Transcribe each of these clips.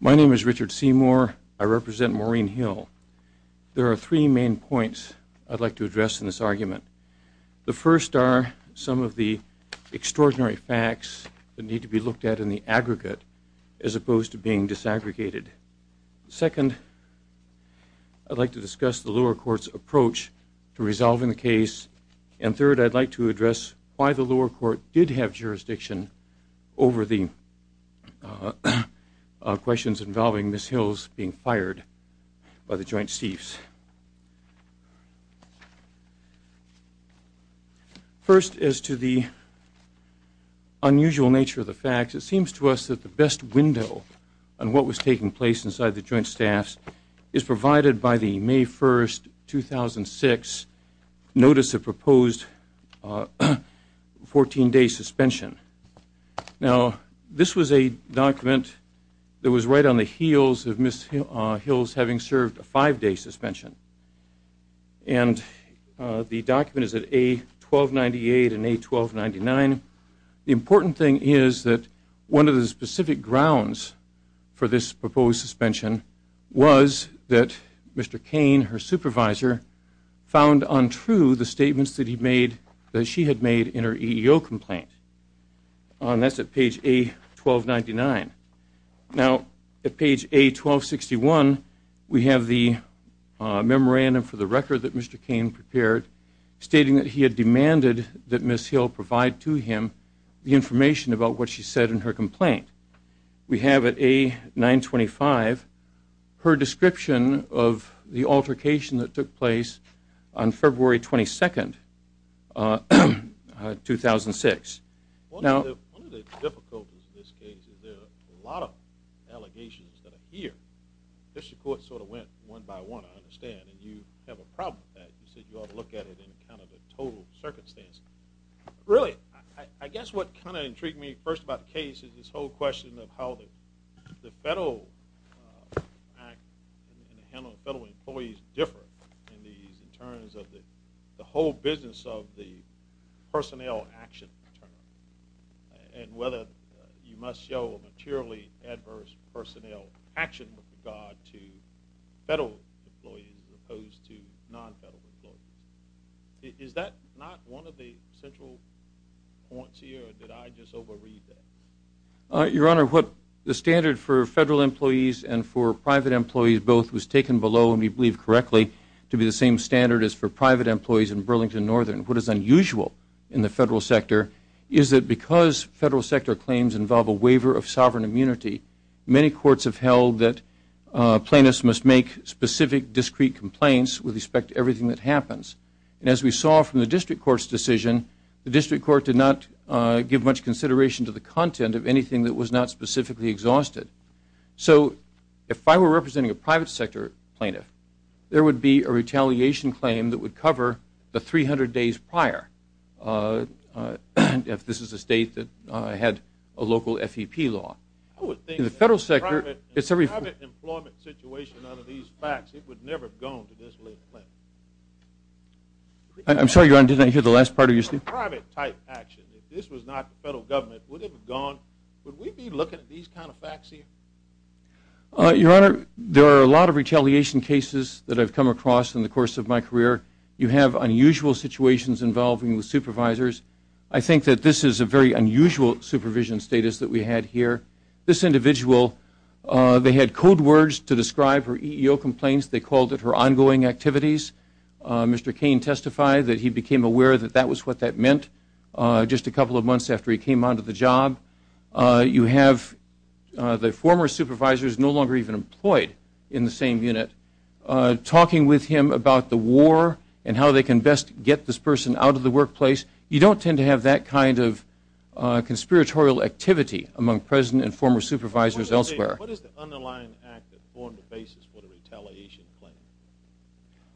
My name is Richard Seymour. I represent Maureen Hill. There are three main points I'd like to address in this argument. The first are some of the extraordinary facts that need to be looked at in the aggregate as opposed to being disaggregated. Second, I'd like to discuss the lower court's approach to resolving the case, and third, I'd like to address why the lower court did have jurisdiction over the questions involving Ms. Hills being fired by the Joint Chiefs. First, as to the unusual nature of the facts, it seems to us that the best window on what was taking place inside the Joint Staffs is provided by the May 1, 2006, notice of proposed 14-day suspension. Now, this was a document that was right on the heels of Ms. Hills having served a five-day suspension, and the document is at A1298 and A1299. The important thing is that one of the specific grounds for this proposed suspension was that Mr. Cain, her supervisor, found untrue the statements that she had made in her EEO complaint. That's at page A1299. Now, at page A1261, we have the memorandum for the record that Mr. Cain prepared stating that he had demanded that Ms. Hill provide to him the her description of the altercation that took place on February 22, 2006. Now, one of the difficulties in this case is there are a lot of allegations that are here. District Court sort of went one by one, I understand, and you have a problem with that. You said you ought to look at it in account of the total circumstance. Really, I guess what kind of intrigued me first about the case is this whole question of how the federal act and the handling of federal employees differ in these in terms of the whole business of the personnel action term, and whether you must show a materially adverse personnel action with regard to federal employees as opposed to non-federal employees. Is that not one of the central points here, or did I just overread that? Your Honor, what the standard for federal employees and for private employees both was taken below, and we believe correctly, to be the same standard as for private employees in Burlington Northern. What is unusual in the federal sector is that because federal sector claims involve a waiver of sovereign immunity, many courts have held that plaintiffs must make specific, discrete complaints with respect to everything that was not specifically exhausted. So, if I were representing a private sector plaintiff, there would be a retaliation claim that would cover the 300 days prior, if this is a state that had a local FEP law. In the federal sector, it's a referral. In a private employment situation out of these facts, it would never have gone to this little plaintiff. I'm sorry, Your Honor, did I hear the last part of your statement? If this was a private type action, if this was not the federal government, would it have gone, would we be looking at these kind of facts here? Your Honor, there are a lot of retaliation cases that I've come across in the course of my career. You have unusual situations involving the supervisors. I think that this is a very unusual supervision status that we had here. This individual, they had code words to describe her EEO complaints. They called it her ongoing activities. Mr. Cain testified that he became aware that that was what that meant just a couple of months after he came onto the job. You have the former supervisors no longer even employed in the same unit talking with him about the war and how they can best get this person out of the workplace. You don't tend to have that kind of conspiratorial activity among present and former supervisors elsewhere. What is the underlying act that formed the basis for the retaliation claim?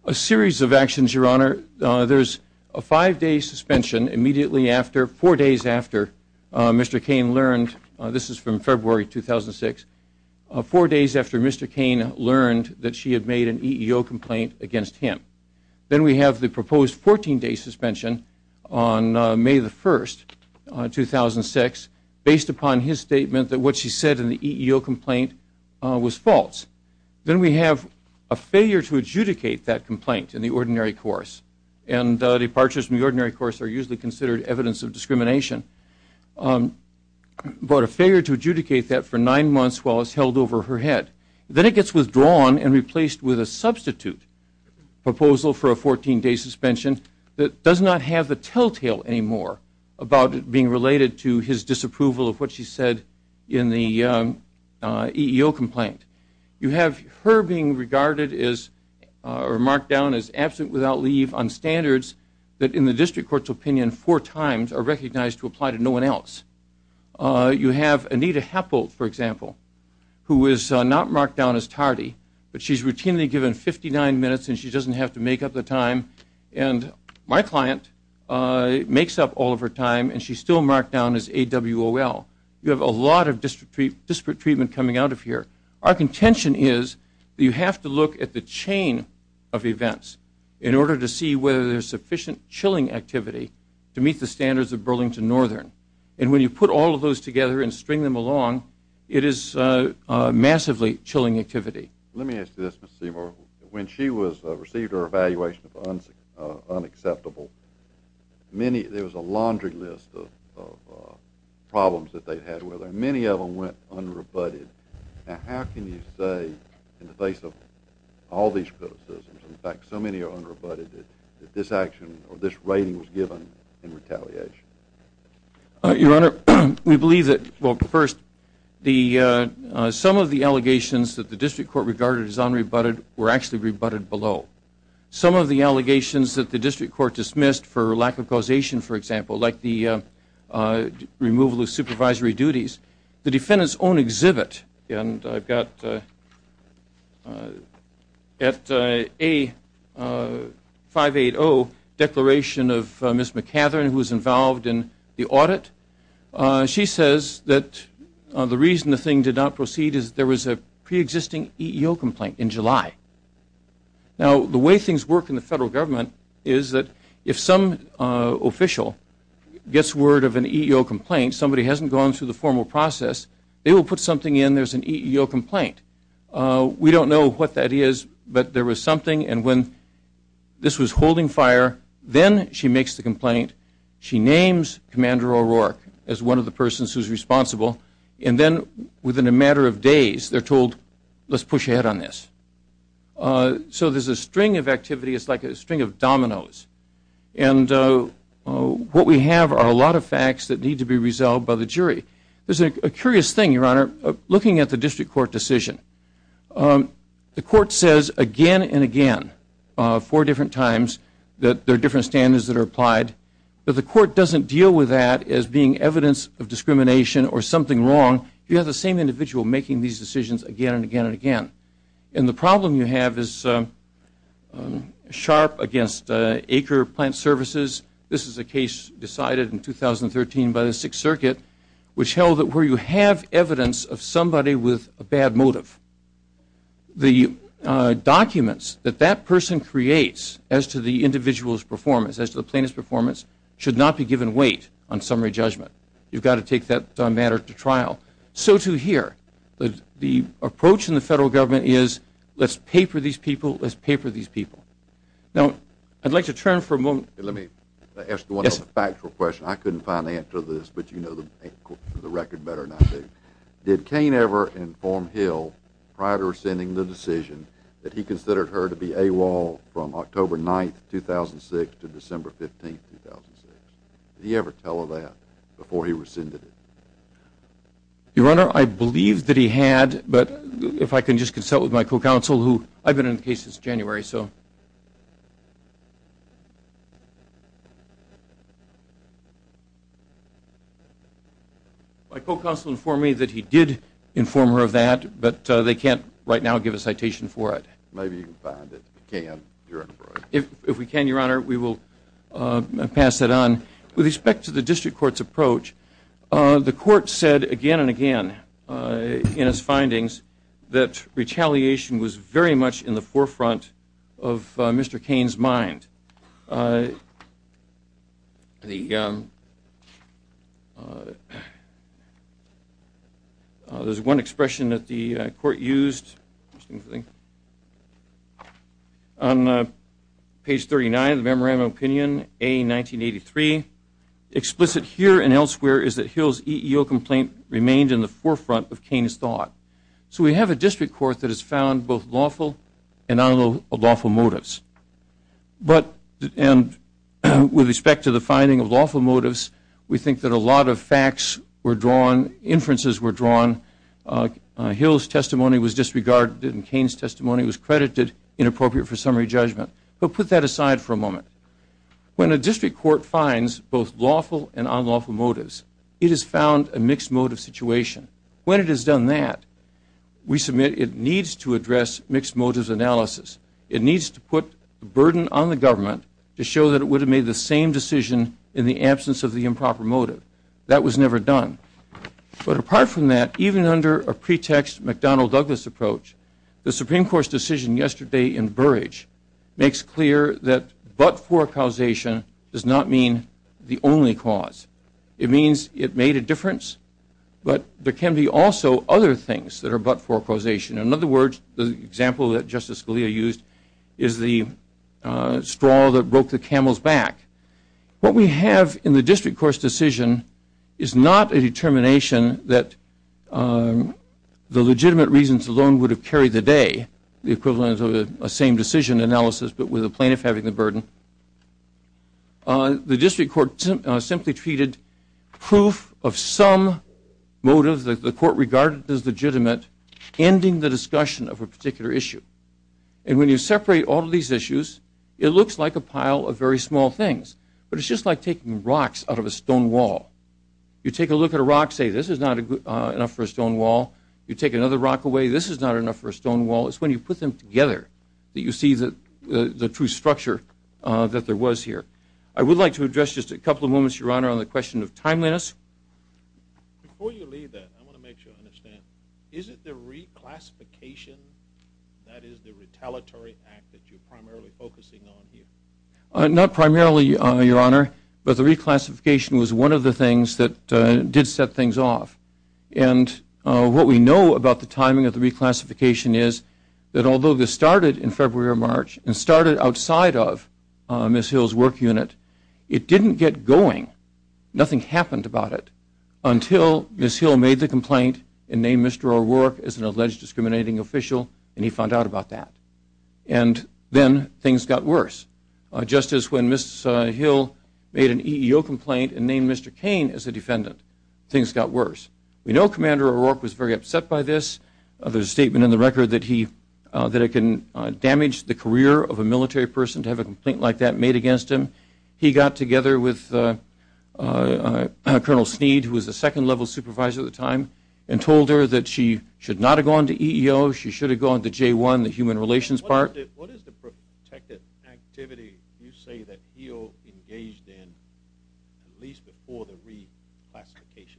A series of actions, Your Honor. There's a five-day suspension immediately after, four days after, Mr. Cain learned, this is from February 2006, four days after Mr. Cain learned that she had made an EEO complaint against him. Then we have the proposed 14-day suspension on May the 1st, 2006, based upon his complaint was false. Then we have a failure to adjudicate that complaint in the ordinary course. And departures from the ordinary course are usually considered evidence of discrimination. But a failure to adjudicate that for nine months while it's held over her head. Then it gets withdrawn and replaced with a substitute proposal for a 14-day suspension that does not have the telltale anymore about it being related to his disapproval of what she said in the EEO complaint. You have her being regarded as, or marked down as absent without leave on standards that in the district court's opinion four times are recognized to apply to no one else. You have Anita Happold, for example, who is not marked down as tardy, but she's routinely given 59 minutes and she coming out of here. Our contention is you have to look at the chain of events in order to see whether there's sufficient chilling activity to meet the standards of Burlington Northern. And when you put all of those together and string them along, it is massively chilling activity. Let me ask you this, Mr. Seymour. When she was, received her evaluation of unacceptable, many, there was a laundry list of problems that they had with her. Many of them went unrebutted. Now how can you say in the face of all these criticisms, in fact so many are unrebutted, that this action or this rating was given in retaliation? Your Honor, we believe that, well first, some of the allegations that the district court regarded as unrebutted were actually rebutted below. Some of the allegations that the defendant's own exhibit, and I've got at A580, declaration of Ms. McCatherin, who was involved in the audit. She says that the reason the thing did not proceed is there was a process. They will put something in, there's an EEO complaint. We don't know what that is, but there was something, and when this was holding fire, then she makes the complaint. She names Commander O'Rourke as one of the persons who's responsible. And then within a matter of days, they're told, let's push ahead on this. So there's a string of activity, it's like a string of dominoes. And what we have are a lot of facts that need to be resolved by the jury. There's a curious thing, Your Honor, looking at the district court decision. The court says again and again, four different times, that there are different standards that are applied, but the court doesn't deal with that as being evidence of discrimination or something wrong. You have the same individual making these decisions again and again and again. And the problem you have is sharp against Acre Plant Services. This is a case decided in 2013 by the Sixth Circuit, which held that where you have evidence of somebody with a bad motive, the documents that that person creates as to the individual's performance, as to the plaintiff's performance, should not be given weight on summary judgment. You've got to take that matter to trial. So too here. The approach in the federal government is, let's pay for these people, let's pay for these people. Now, I'd like to turn for a moment. Let me ask one factual question. I couldn't find the answer to this, but you know the record better than I do. Did Kane ever inform Hill, prior to rescinding the decision, that he considered her to be AWOL from October 9th, 2006 to December 15th, 2006? Did he ever tell her that before he rescinded it? Your Honor, I believe that he had, but if I can just consult with my co-counsel, who I've been in the case since January, so... My co-counsel informed me that he did inform her of that, but they can't, right now, give a citation for it. Maybe you can find it, if you can, Your Honor. If we can, Your Honor, we will pass it on. With respect to the district court's approach, the court said again and again, in its findings, that retaliation was very much in the forefront of Mr. Kane's mind. There's one expression that the court used, on page 39 of the Memorandum of Opinion, A, 1983. Explicit here and elsewhere is that Hill's EEO complaint remained in the forefront of Kane's thought. So we have a district court that has found both lawful and unlawful motives. But, and with respect to the finding of lawful motives, we think that a lot of facts were drawn, inferences were drawn. Hill's testimony was disregarded and Kane's testimony was credited, inappropriate for summary judgment. But put that aside for a moment. When a district court finds both lawful and unlawful motives, it has found a mixed motive situation. When it has done that, we submit it needs to address mixed motives analysis. It needs to put a burden on the government to show that it would have made the same decision in the absence of the improper motive. That was never done. But apart from that, even under a pretext McDonald-Douglas approach, the Supreme Court's decision yesterday in Burrage makes clear that but-for causation does not mean the only cause. It means it made a difference, but there can be also other things that are but-for causation. In other words, the example that Justice Scalia used is the straw that broke the camel's back. What we have in the district court's decision is not a determination that the legitimate reasons alone would have carried the day, the equivalent of a same decision analysis but with a plaintiff having the burden. The district court simply treated proof of some motive that the court regarded as legitimate, ending the discussion of a particular issue. And when you separate all of these issues, it looks like a pile of very small things. But it's just like taking rocks out of a stone wall. You take a look at a rock, say this is not enough for a stone wall. You take another rock away, this is not enough for a stone wall. It's when you put them together that you see the true structure that there was here. I would like to address just a couple of moments, Your Honor, on the question of timeliness. Before you leave that, I want to make sure I understand. Is it the reclassification that is the retaliatory act that you're primarily focusing on here? Not primarily, Your Honor, but the reclassification was one of the things that did set things off. And what we know about the timing of the reclassification is that although this started in February or March and started outside of Ms. Hill's work unit, it didn't get going. Nothing happened about it until Ms. Hill made the complaint and named Mr. O'Rourke as an alleged discriminating official and he found out about that. And then things got worse. Just as when Ms. Hill made an EEO complaint and named Mr. Cain as a defendant, things got worse. We know Commander O'Rourke was very upset by this. There's a statement in the record that it can damage the career of a military person to have a complaint like that made against him. He got together with Colonel Sneed, who was a second-level supervisor at the time, and told her that she should not have gone to EEO, she should have gone to J-1, the human relations part. What is the protected activity you say that Hill engaged in at least before the reclassification?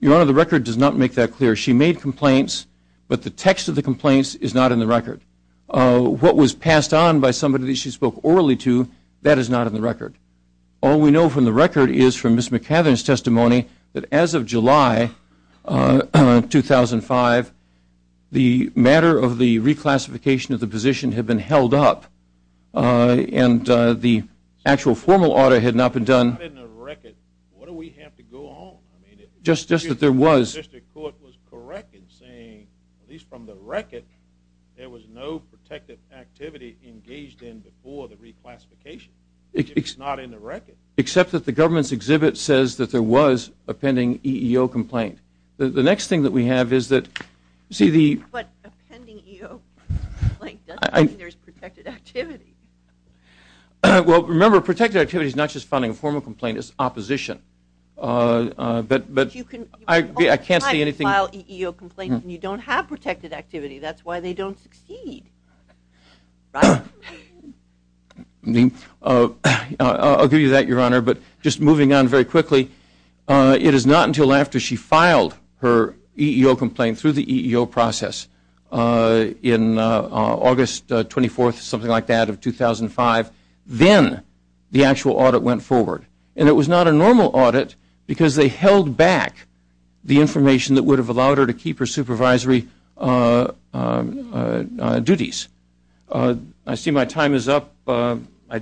Your Honor, the record does not make that clear. She made complaints, but the text of the complaints is not in the record. What was passed on by somebody that she spoke orally to, that is not in the record. All we know from the record is from Ms. McCather's testimony that as of July 2005, the matter of the reclassification of the position had been held up, and the actual formal audit had not been done. It's not in the record. What do we have to go on? Just that there was. The district court was correct in saying, at least from the record, there was no protected activity engaged in before the reclassification. It's not in the record. Except that the government's exhibit says that there was a pending EEO complaint. The next thing that we have is that – But a pending EEO complaint doesn't mean there's protected activity. Well, remember, protected activity is not just filing a formal complaint. It's opposition. But you can – I can't see anything – You can all the time file EEO complaints, and you don't have protected activity. That's why they don't succeed, right? I'll give you that, Your Honor, but just moving on very quickly, it is not until after she filed her EEO complaint through the EEO process in August 24th, something like that, of 2005, then the actual audit went forward. And it was not a normal audit because they held back the information that would have allowed her to keep her supervisory duties. I see my time is up. I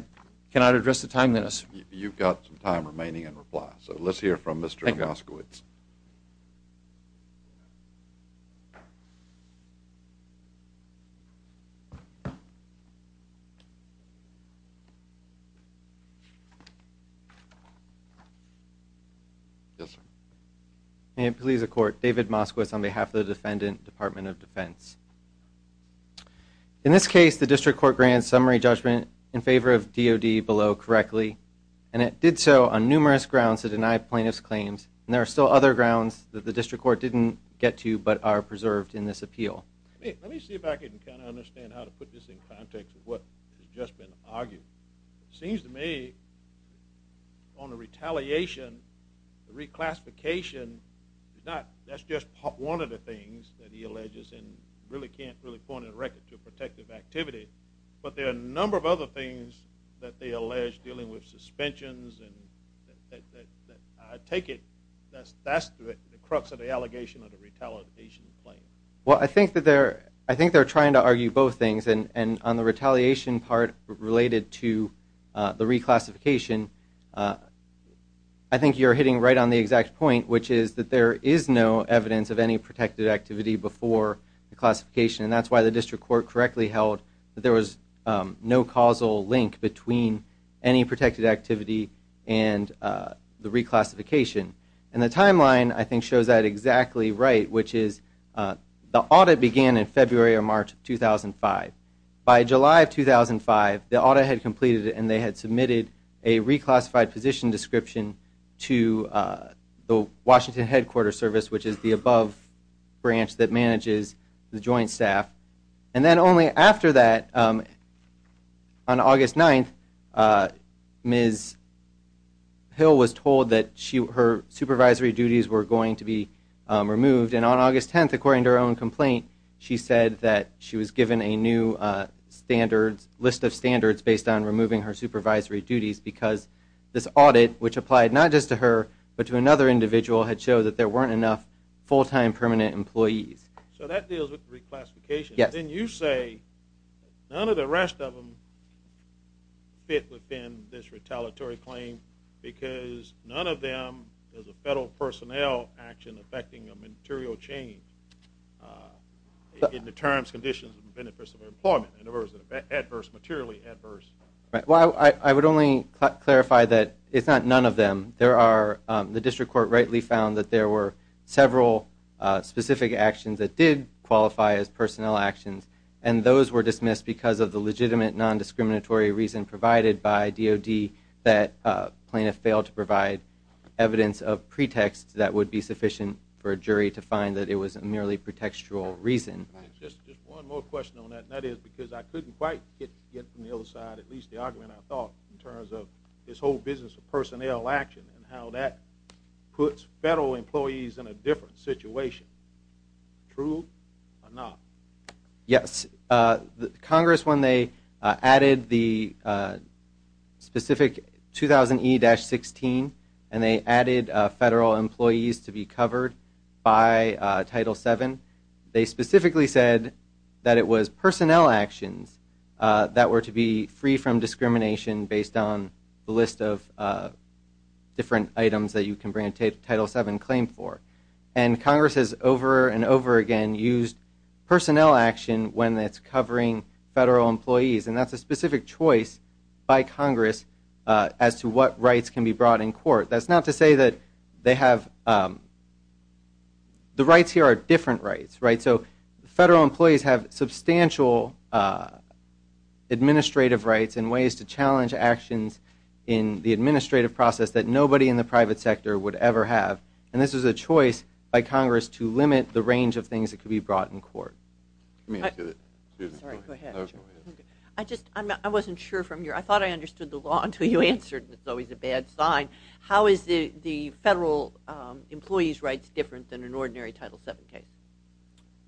cannot address the time, Dennis. You've got some time remaining in reply, so let's hear from Mr. Moskowitz. Yes, sir. May it please the Court, David Moskowitz on behalf of the Defendant Department of Defense. In this case, the District Court grants summary judgment in favor of DOD below correctly, and it did so on numerous grounds to deny plaintiff's claims, and there are still other grounds that the District Court didn't get to but are preserved in this appeal. Let me see if I can kind of understand how to put this in context of what has just been argued. It seems to me on the retaliation, the reclassification, that's just one of the things that he alleges and really can't really point a record to a protective activity, but there are a number of other things that they allege dealing with suspensions, and I take it that's the crux of the allegation of the retaliation claim. Well, I think they're trying to argue both things, and on the retaliation part related to the reclassification, I think you're hitting right on the exact point, which is that there is no evidence of any protected activity before the classification, and that's why the District Court correctly held that there was no causal link between any protected activity and the reclassification, and the timeline, I think, shows that exactly right, which is the audit began in February or March of 2005. By July of 2005, the audit had completed, and they had submitted a reclassified position description to the Washington Headquarters Service, which is the above branch that manages the joint staff, and then only after that, on August 9th, Ms. Hill was told that her supervisory duties were going to be removed, and on August 10th, according to her own complaint, she said that she was given a new list of standards based on removing her supervisory duties because this audit, which applied not just to her but to another individual, had showed that there weren't enough full-time permanent employees. So that deals with reclassification. Yes. Then you say none of the rest of them fit within this retaliatory claim because none of them is a federal personnel action affecting a material change in the terms, conditions, and benefits of employment, in other words, materially adverse. Well, I would only clarify that it's not none of them. The District Court rightly found that there were several specific actions that did qualify as personnel actions, and those were dismissed because of the legitimate nondiscriminatory reason provided by DOD that plaintiff failed to provide evidence of pretext that would be sufficient for a jury to find that it was merely pretextual reason. Just one more question on that, and that is because I couldn't quite get from the other side at least the argument I thought in terms of this whole business of personnel action and how that puts federal employees in a different situation. True or not? Yes. Congress, when they added the specific 2000E-16 and they added federal employees to be covered by Title VII, they specifically said that it was personnel actions that were to be free from discrimination based on the list of different items that you can bring a Title VII claim for. And Congress has over and over again used personnel action when it's covering federal employees, and that's a specific choice by Congress as to what rights can be brought in court. That's not to say that they have the rights here are different rights, right? So federal employees have substantial administrative rights and ways to challenge actions in the administrative process that nobody in the private sector would ever have, and this was a choice by Congress to limit the range of things that could be brought in court. I'm sorry, go ahead. I just, I wasn't sure from your, I thought I understood the law until you answered, and it's always a bad sign. How is the federal employee's rights different than an ordinary Title VII case?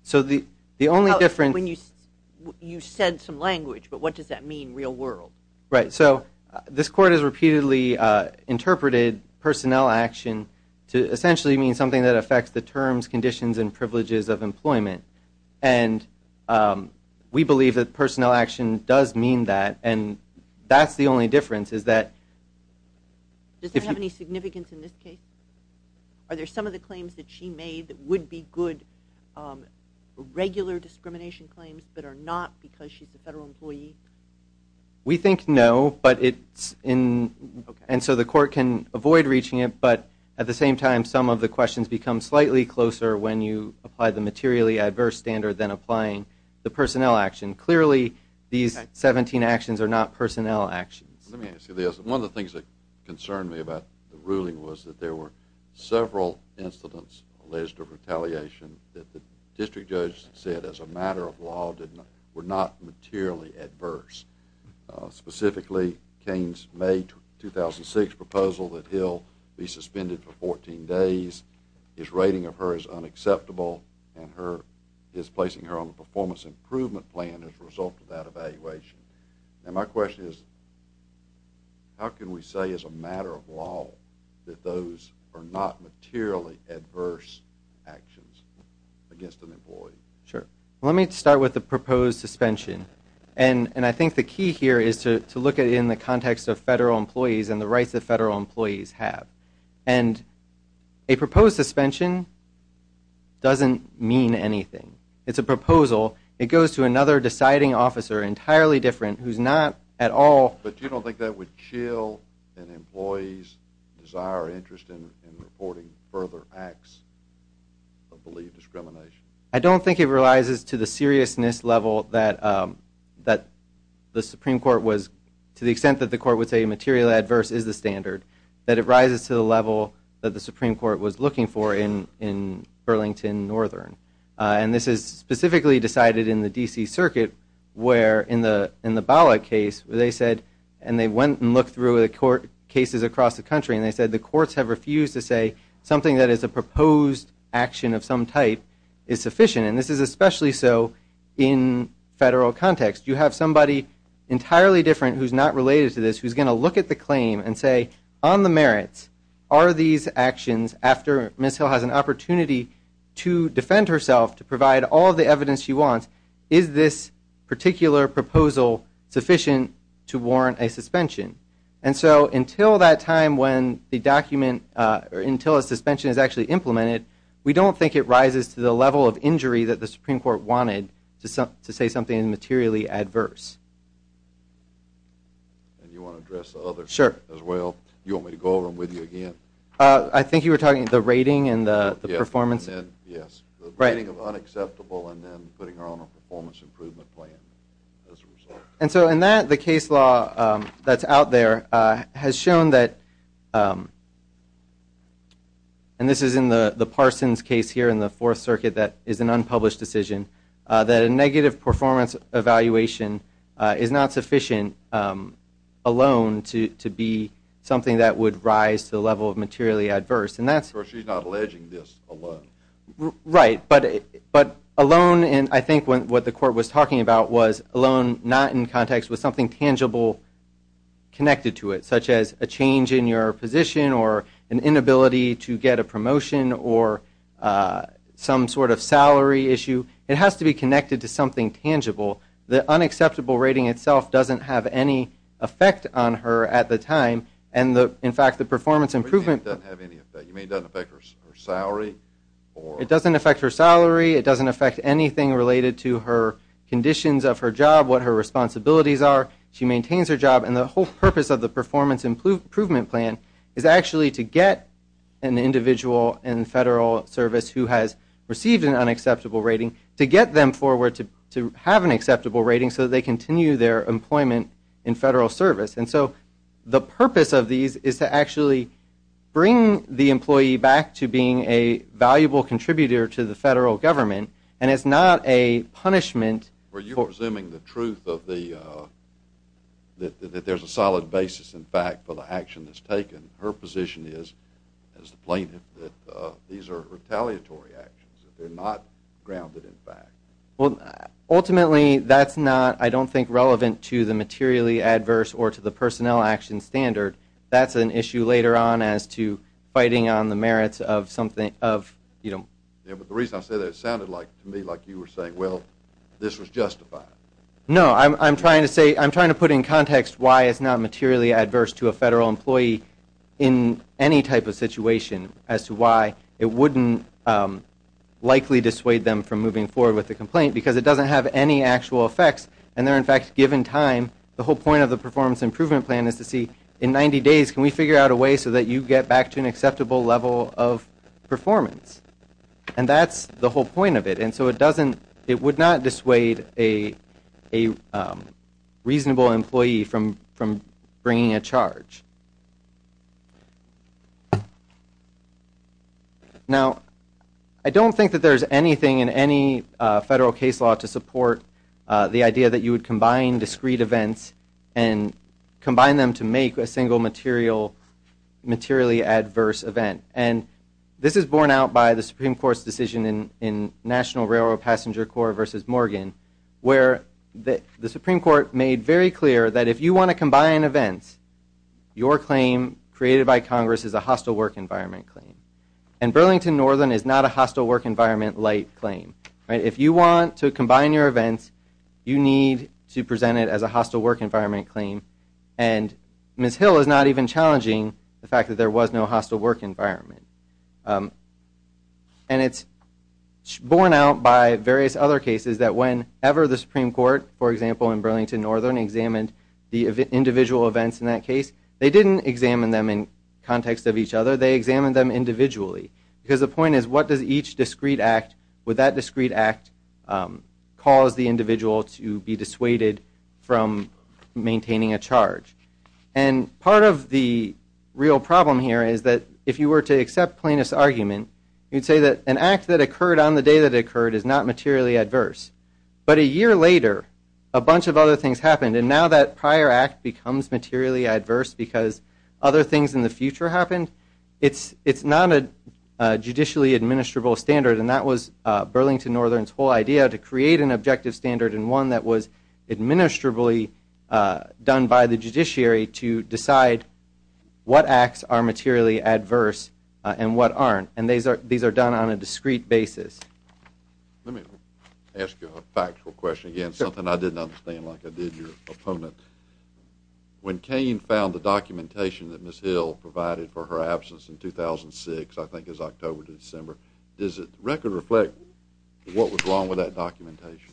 So the only difference You said some language, but what does that mean in the real world? Right, so this court has repeatedly interpreted personnel action to essentially mean something that affects the terms, conditions, and privileges of employment, and we believe that personnel action does mean that, and that's the only difference is that Does that have any significance in this case? Are there some of the claims that she made that would be good regular discrimination claims that are not because she's a federal employee? We think no, but it's in, and so the court can avoid reaching it, but at the same time some of the questions become slightly closer when you apply the materially adverse standard than applying the personnel action. Clearly these 17 actions are not personnel actions. Let me ask you this. One of the things that concerned me about the ruling was that there were several incidents alleged of retaliation that the district judge said as a matter of law were not materially adverse, specifically Kane's May 2006 proposal that he'll be suspended for 14 days. His rating of her is unacceptable, and he's placing her on the performance improvement plan as a result of that evaluation, and my question is how can we say as a matter of law that those are not materially adverse actions against an employee? Sure. Let me start with the proposed suspension, and I think the key here is to look at it in the context of federal employees and the rights that federal employees have, and a proposed suspension doesn't mean anything. It's a proposal. It goes to another deciding officer, entirely different, who's not at all But you don't think that would chill an employee's desire or interest in reporting further acts of believed discrimination? I don't think it rises to the seriousness level that the Supreme Court was, to the extent that the court would say materially adverse is the standard, that it rises to the level that the Supreme Court was looking for in Burlington Northern, and this is specifically decided in the D.C. Circuit where in the Bollock case where they said, and they went and looked through the court cases across the country, and they said the courts have refused to say something that is a proposed action of some type is sufficient, and this is especially so in federal context. You have somebody entirely different who's not related to this who's going to look at the claim and say on the merits, are these actions after Ms. Hill has an opportunity to defend herself, to provide all the evidence she wants, is this particular proposal sufficient to warrant a suspension? And so until that time when the document, until a suspension is actually implemented, we don't think it rises to the level of injury that the Supreme Court wanted to say something materially adverse. And you want to address the others as well? Sure. You want me to go over them with you again? I think you were talking about the rating and the performance. Yes, the rating of unacceptable and then putting her on a performance improvement plan as a result. And so in that, the case law that's out there has shown that, and this is in the Parsons case here in the Fourth Circuit that is an unpublished decision, that a negative performance evaluation is not sufficient alone to be something that would rise to the level of materially adverse. Of course, she's not alleging this alone. Right. But alone, and I think what the Court was talking about was alone, not in context with something tangible connected to it, such as a change in your position or an inability to get a promotion or some sort of salary issue. It has to be connected to something tangible. The unacceptable rating itself doesn't have any effect on her at the time. What do you mean it doesn't have any effect? You mean it doesn't affect her salary? It doesn't affect her salary. It doesn't affect anything related to her conditions of her job, what her responsibilities are. She maintains her job. And the whole purpose of the performance improvement plan is actually to get an individual in federal service who has received an unacceptable rating to get them forward to have an acceptable rating so that they continue their employment in federal service. And so the purpose of these is to actually bring the employee back to being a valuable contributor to the federal government, and it's not a punishment. Are you presuming the truth that there's a solid basis, in fact, for the action that's taken? Her position is, as the plaintiff, that these are retaliatory actions, that they're not grounded in fact. Well, ultimately, that's not, I don't think, relevant to the materially adverse or to the personnel action standard. That's an issue later on as to fighting on the merits of something of, you know. Yeah, but the reason I say that, it sounded to me like you were saying, well, this was justified. No, I'm trying to put in context why it's not materially adverse to a federal employee in any type of situation as to why it wouldn't likely dissuade them from moving forward with the complaint because it doesn't have any actual effects, and they're, in fact, given time. The whole point of the performance improvement plan is to see, in 90 days, can we figure out a way so that you get back to an acceptable level of performance? And that's the whole point of it. And so it doesn't, it would not dissuade a reasonable employee from bringing a charge. Now, I don't think that there's anything in any federal case law to support the idea that you would combine discrete events and combine them to make a single materially adverse event. And this is borne out by the Supreme Court's decision in National Railroad Passenger Corps v. Morgan where the Supreme Court made very clear that if you want to combine events, your claim created by Congress is a hostile work environment claim. And Burlington Northern is not a hostile work environment light claim. If you want to combine your events, you need to present it as a hostile work environment claim. And Ms. Hill is not even challenging the fact that there was no hostile work environment. And it's borne out by various other cases that whenever the Supreme Court, for example, in Burlington Northern examined the individual events in that case, they didn't examine them in context of each other, they examined them individually. Because the point is, what does each discrete act, would that discrete act cause the individual to be dissuaded from maintaining a charge? And part of the real problem here is that if you were to accept Plaintiff's argument, you'd say that an act that occurred on the day that it occurred is not materially adverse. But a year later, a bunch of other things happened. And now that prior act becomes materially adverse because other things in the future happened. It's not a judicially administrable standard. And that was Burlington Northern's whole idea, to create an objective standard and one that was administrably done by the judiciary to decide what acts are materially adverse and what aren't. And these are done on a discrete basis. Let me ask you a factual question again, something I didn't understand like I did your opponent. When Cain found the documentation that Ms. Hill provided for her absence in 2006, I think it was October to December, does the record reflect what was wrong with that documentation?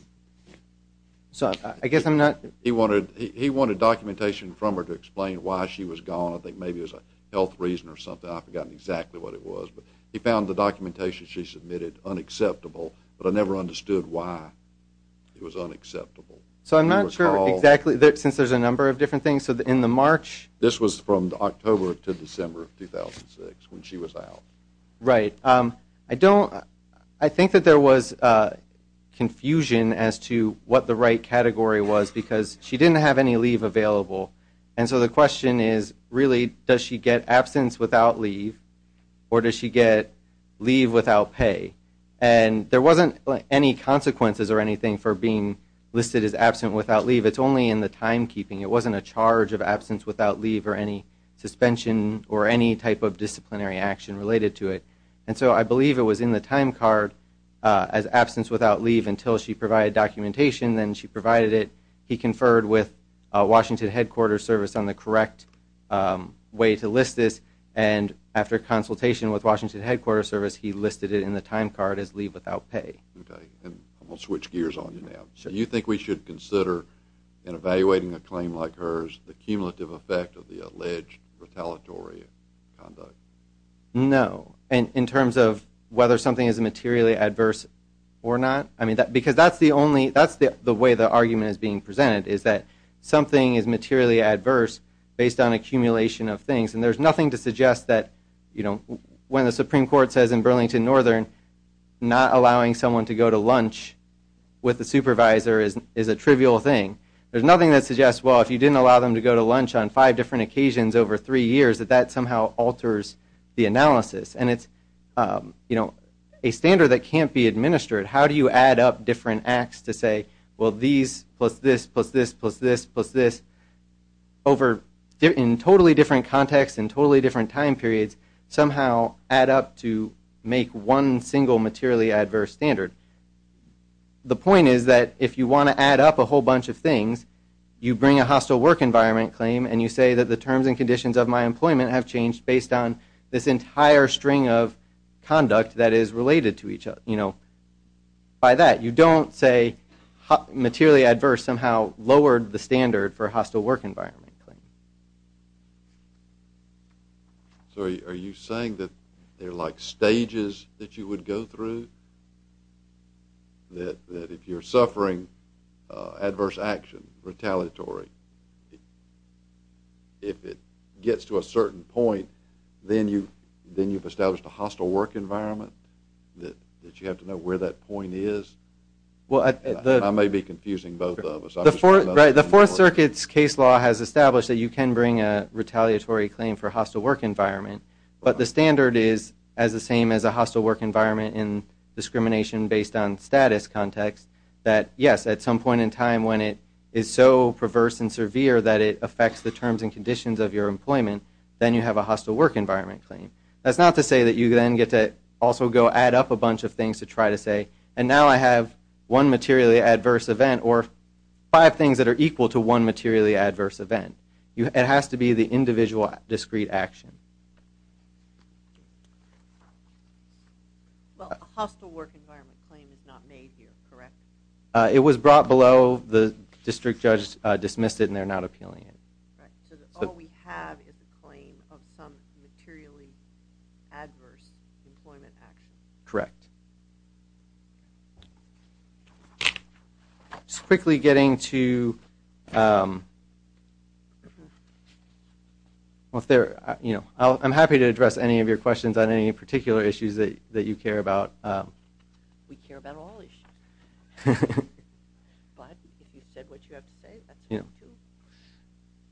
I guess I'm not. He wanted documentation from her to explain why she was gone. I think maybe it was a health reason or something. I've forgotten exactly what it was. But he found the documentation she submitted unacceptable. But I never understood why it was unacceptable. So I'm not sure exactly, since there's a number of different things. So in the March. This was from October to December of 2006 when she was out. Right. I don't, I think that there was confusion as to what the right category was because she didn't have any leave available. And so the question is, really, does she get absence without leave or does she get leave without pay? And there wasn't any consequences or anything for being listed as absent without leave. It's only in the timekeeping. It wasn't a charge of absence without leave or any suspension or any type of disciplinary action related to it. And so I believe it was in the timecard as absence without leave until she provided documentation. Then she provided it. He conferred with Washington Headquarters Service on the correct way to list this. And after consultation with Washington Headquarters Service, he listed it in the timecard as leave without pay. Okay. And we'll switch gears on you now. Sure. Do you think we should consider, in evaluating a claim like hers, the cumulative effect of the alleged retaliatory conduct? No. In terms of whether something is materially adverse or not? I mean, because that's the only, that's the way the argument is being presented is that something is materially adverse based on accumulation of things. And there's nothing to suggest that, you know, when the Supreme Court says in Burlington Northern not allowing someone to go to lunch with the supervisor is a trivial thing. There's nothing that suggests, well, if you didn't allow them to go to lunch on five different occasions over three years, that that somehow alters the analysis. And it's, you know, a standard that can't be administered. How do you add up different acts to say, well, these plus this plus this plus this plus this over, in totally different contexts and totally different time periods, somehow add up to make one single materially adverse standard? The point is that if you want to add up a whole bunch of things, you bring a hostile work environment claim and you say that the terms and conditions of my employment have changed based on this entire string of conduct that is related to each other. And, you know, by that you don't say materially adverse somehow lowered the standard for hostile work environment claim. So are you saying that there are like stages that you would go through? That if you're suffering adverse action, retaliatory, if it gets to a certain point, then you've established a hostile work environment? That you have to know where that point is? I may be confusing both of us. The Fourth Circuit's case law has established that you can bring a retaliatory claim for hostile work environment. But the standard is as the same as a hostile work environment in discrimination based on status context, that, yes, at some point in time when it is so perverse and severe that it affects the terms and conditions of your employment, then you have a hostile work environment claim. That's not to say that you then get to also go add up a bunch of things to try to say, and now I have one materially adverse event or five things that are equal to one materially adverse event. It has to be the individual discrete action. Well, a hostile work environment claim is not made here, correct? It was brought below, the district judge dismissed it, and they're not appealing it. So all we have is a claim of some materially adverse employment action. Correct. I'm happy to address any of your questions on any particular issues that you care about. We care about all issues. But if you said what you have to say, that's fine, too.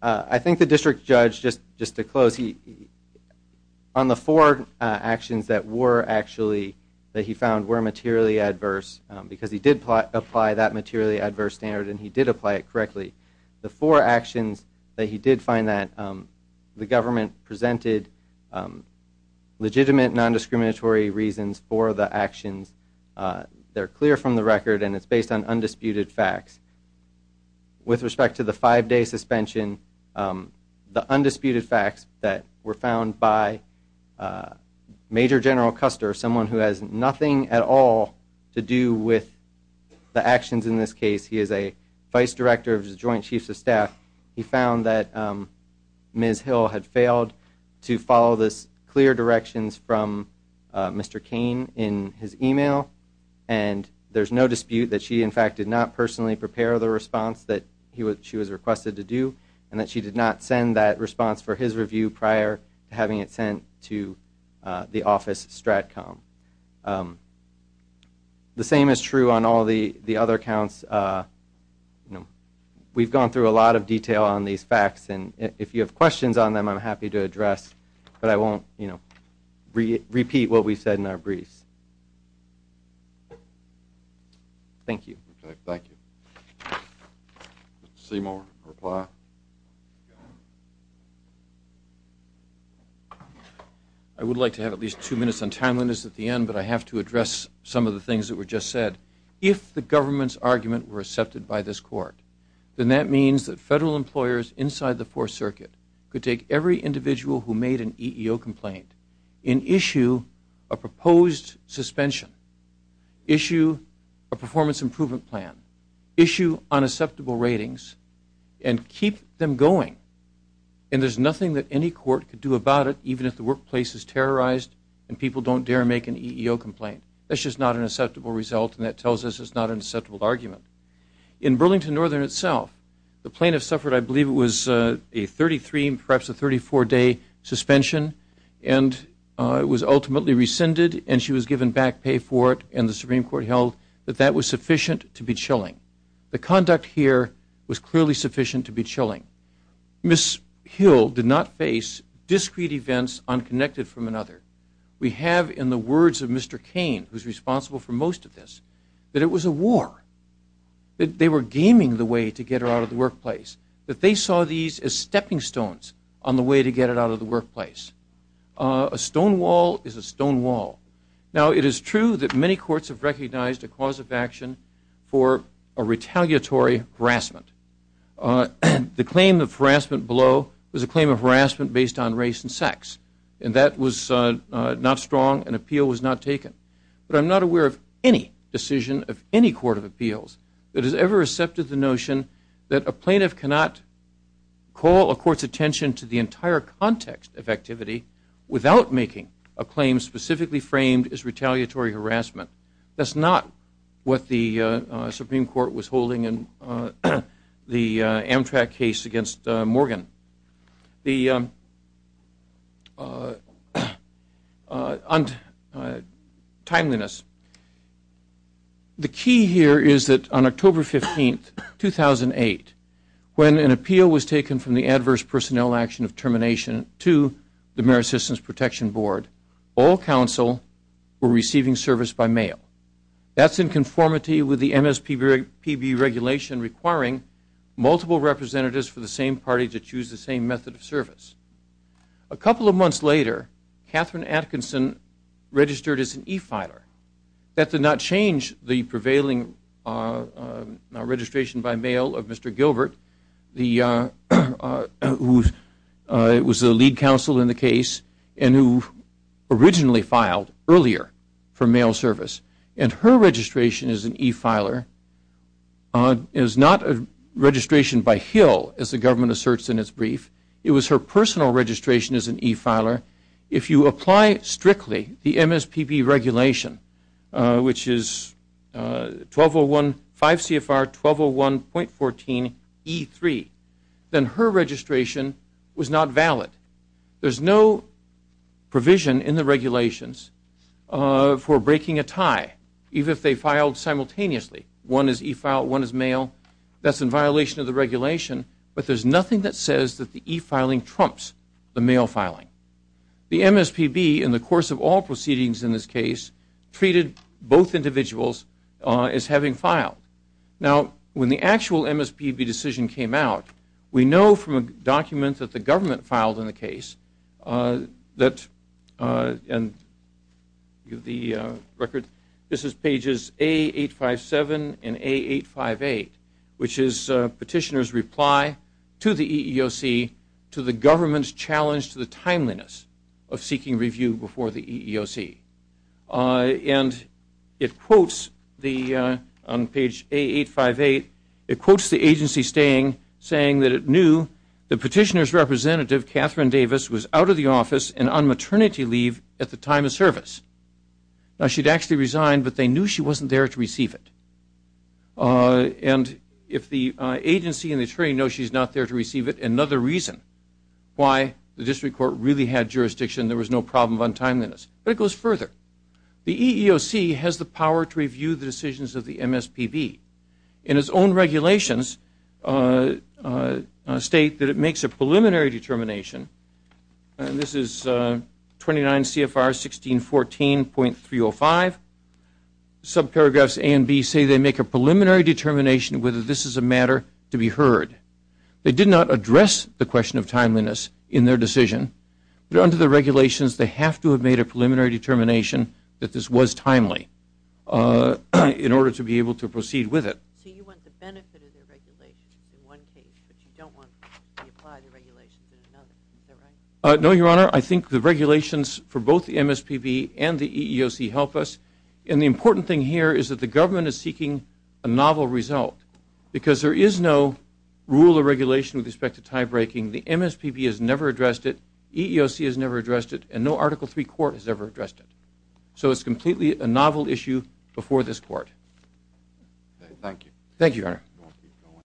I think the district judge, just to close, on the four actions that he found were materially adverse, because he did apply that materially adverse standard and he did apply it correctly, the four actions that he did find that the government presented legitimate nondiscriminatory reasons for the actions, they're clear from the record and it's based on undisputed facts. With respect to the five-day suspension, the undisputed facts that were found by Major General Custer, someone who has nothing at all to do with the actions in this case. He is a vice director of the Joint Chiefs of Staff. He found that Ms. Hill had failed to follow the clear directions from Mr. Cain in his e-mail, and there's no dispute that she, in fact, did not personally prepare the response that she was requested to do, and that she did not send that response for his review prior to having it sent to the office STRATCOM. The same is true on all the other counts. You know, we've gone through a lot of detail on these facts and if you have questions on them, I'm happy to address, but I won't, you know, repeat what we've said in our briefs. Thank you. Thank you. Mr. Seymour, reply? I would like to have at least two minutes on timeliness at the end, but I have to address some of the things that were just said. If the government's argument were accepted by this court, then that means that federal employers inside the Fourth Circuit could take every individual who made an EEO complaint and issue a proposed suspension, issue a performance improvement plan, issue unacceptable ratings, and keep them going. And there's nothing that any court could do about it, even if the workplace is terrorized and people don't dare make an EEO complaint. That's just not an acceptable result and that tells us it's not an acceptable argument. In Burlington Northern itself, the plaintiff suffered, I believe, it was a 33 and perhaps a 34-day suspension and it was ultimately rescinded and she was given back pay for it and the Supreme Court held that that was sufficient to be chilling. The conduct here was clearly sufficient to be chilling. Ms. Hill did not face discrete events unconnected from another. We have in the words of Mr. Cain, who's responsible for most of this, that it was a war, that they were gaming the way to get her out of the workplace, that they saw these as stepping stones on the way to get her out of the workplace. A stone wall is a stone wall. Now, it is true that many courts have recognized a cause of action for a retaliatory harassment. The claim of harassment below was a claim of harassment based on race and sex and that was not strong and appeal was not taken. But I'm not aware of any decision of any court of appeals that has ever accepted the notion that a plaintiff cannot call a court's attention to the entire context of activity without making a claim specifically framed as retaliatory harassment. That's not what the Supreme Court was holding in the Amtrak case against Morgan. The timeliness. The key here is that on October 15, 2008, when an appeal was taken from the Adverse Personnel Action of Termination to the Merit Systems Protection Board, all counsel were receiving service by mail. That's in conformity with the MSPB regulation requiring multiple representatives for the same party to choose the same method of service. A couple of months later, Catherine Atkinson registered as an e-filer. That did not change the prevailing registration by mail of Mr. Gilbert, who was the lead counsel in the case and who originally filed earlier for mail service. And her registration as an e-filer is not a registration by Hill, as the government asserts in its brief. It was her personal registration as an e-filer. If you apply strictly the MSPB regulation, which is 5 CFR 1201.14 E3, then her registration was not valid. There's no provision in the regulations for breaking a tie, even if they filed simultaneously. One is e-filed, one is mail. That's in violation of the regulation, but there's nothing that says that the e-filing trumps the mail filing. The MSPB, in the course of all proceedings in this case, treated both individuals as having filed. Now, when the actual MSPB decision came out, we know from a document that the government filed in the case that, and the record, this is pages A857 and A858, which is petitioner's reply to the EEOC to the government's challenge to the timeliness of seeking review before the EEOC. And it quotes the, on page A858, it quotes the agency staying, saying that it knew the petitioner's representative, Catherine Davis, was out of the office and on maternity leave at the time of service. Now, she'd actually resigned, but they knew she wasn't there to receive it. And if the agency and the attorney know she's not there to receive it, another reason why the district court really had jurisdiction, there was no problem of untimeliness. But it goes further. The EEOC has the power to review the decisions of the MSPB. And its own regulations state that it makes a preliminary determination, and this is 29 CFR 1614.305. Subparagraphs A and B say they make a preliminary determination whether this is a matter to be heard. They did not address the question of timeliness in their decision, but under the regulations they have to have made a preliminary determination that this was timely in order to be able to proceed with it. So you want the benefit of the regulations in one case, but you don't want to apply the regulations in another. Is that right? No, Your Honor. I think the regulations for both the MSPB and the EEOC help us. And the important thing here is that the government is seeking a novel result because there is no rule or regulation with respect to tiebreaking. The MSPB has never addressed it, EEOC has never addressed it, and no Article III court has ever addressed it. So it's completely a novel issue before this court. Thank you. Thank you, Your Honor.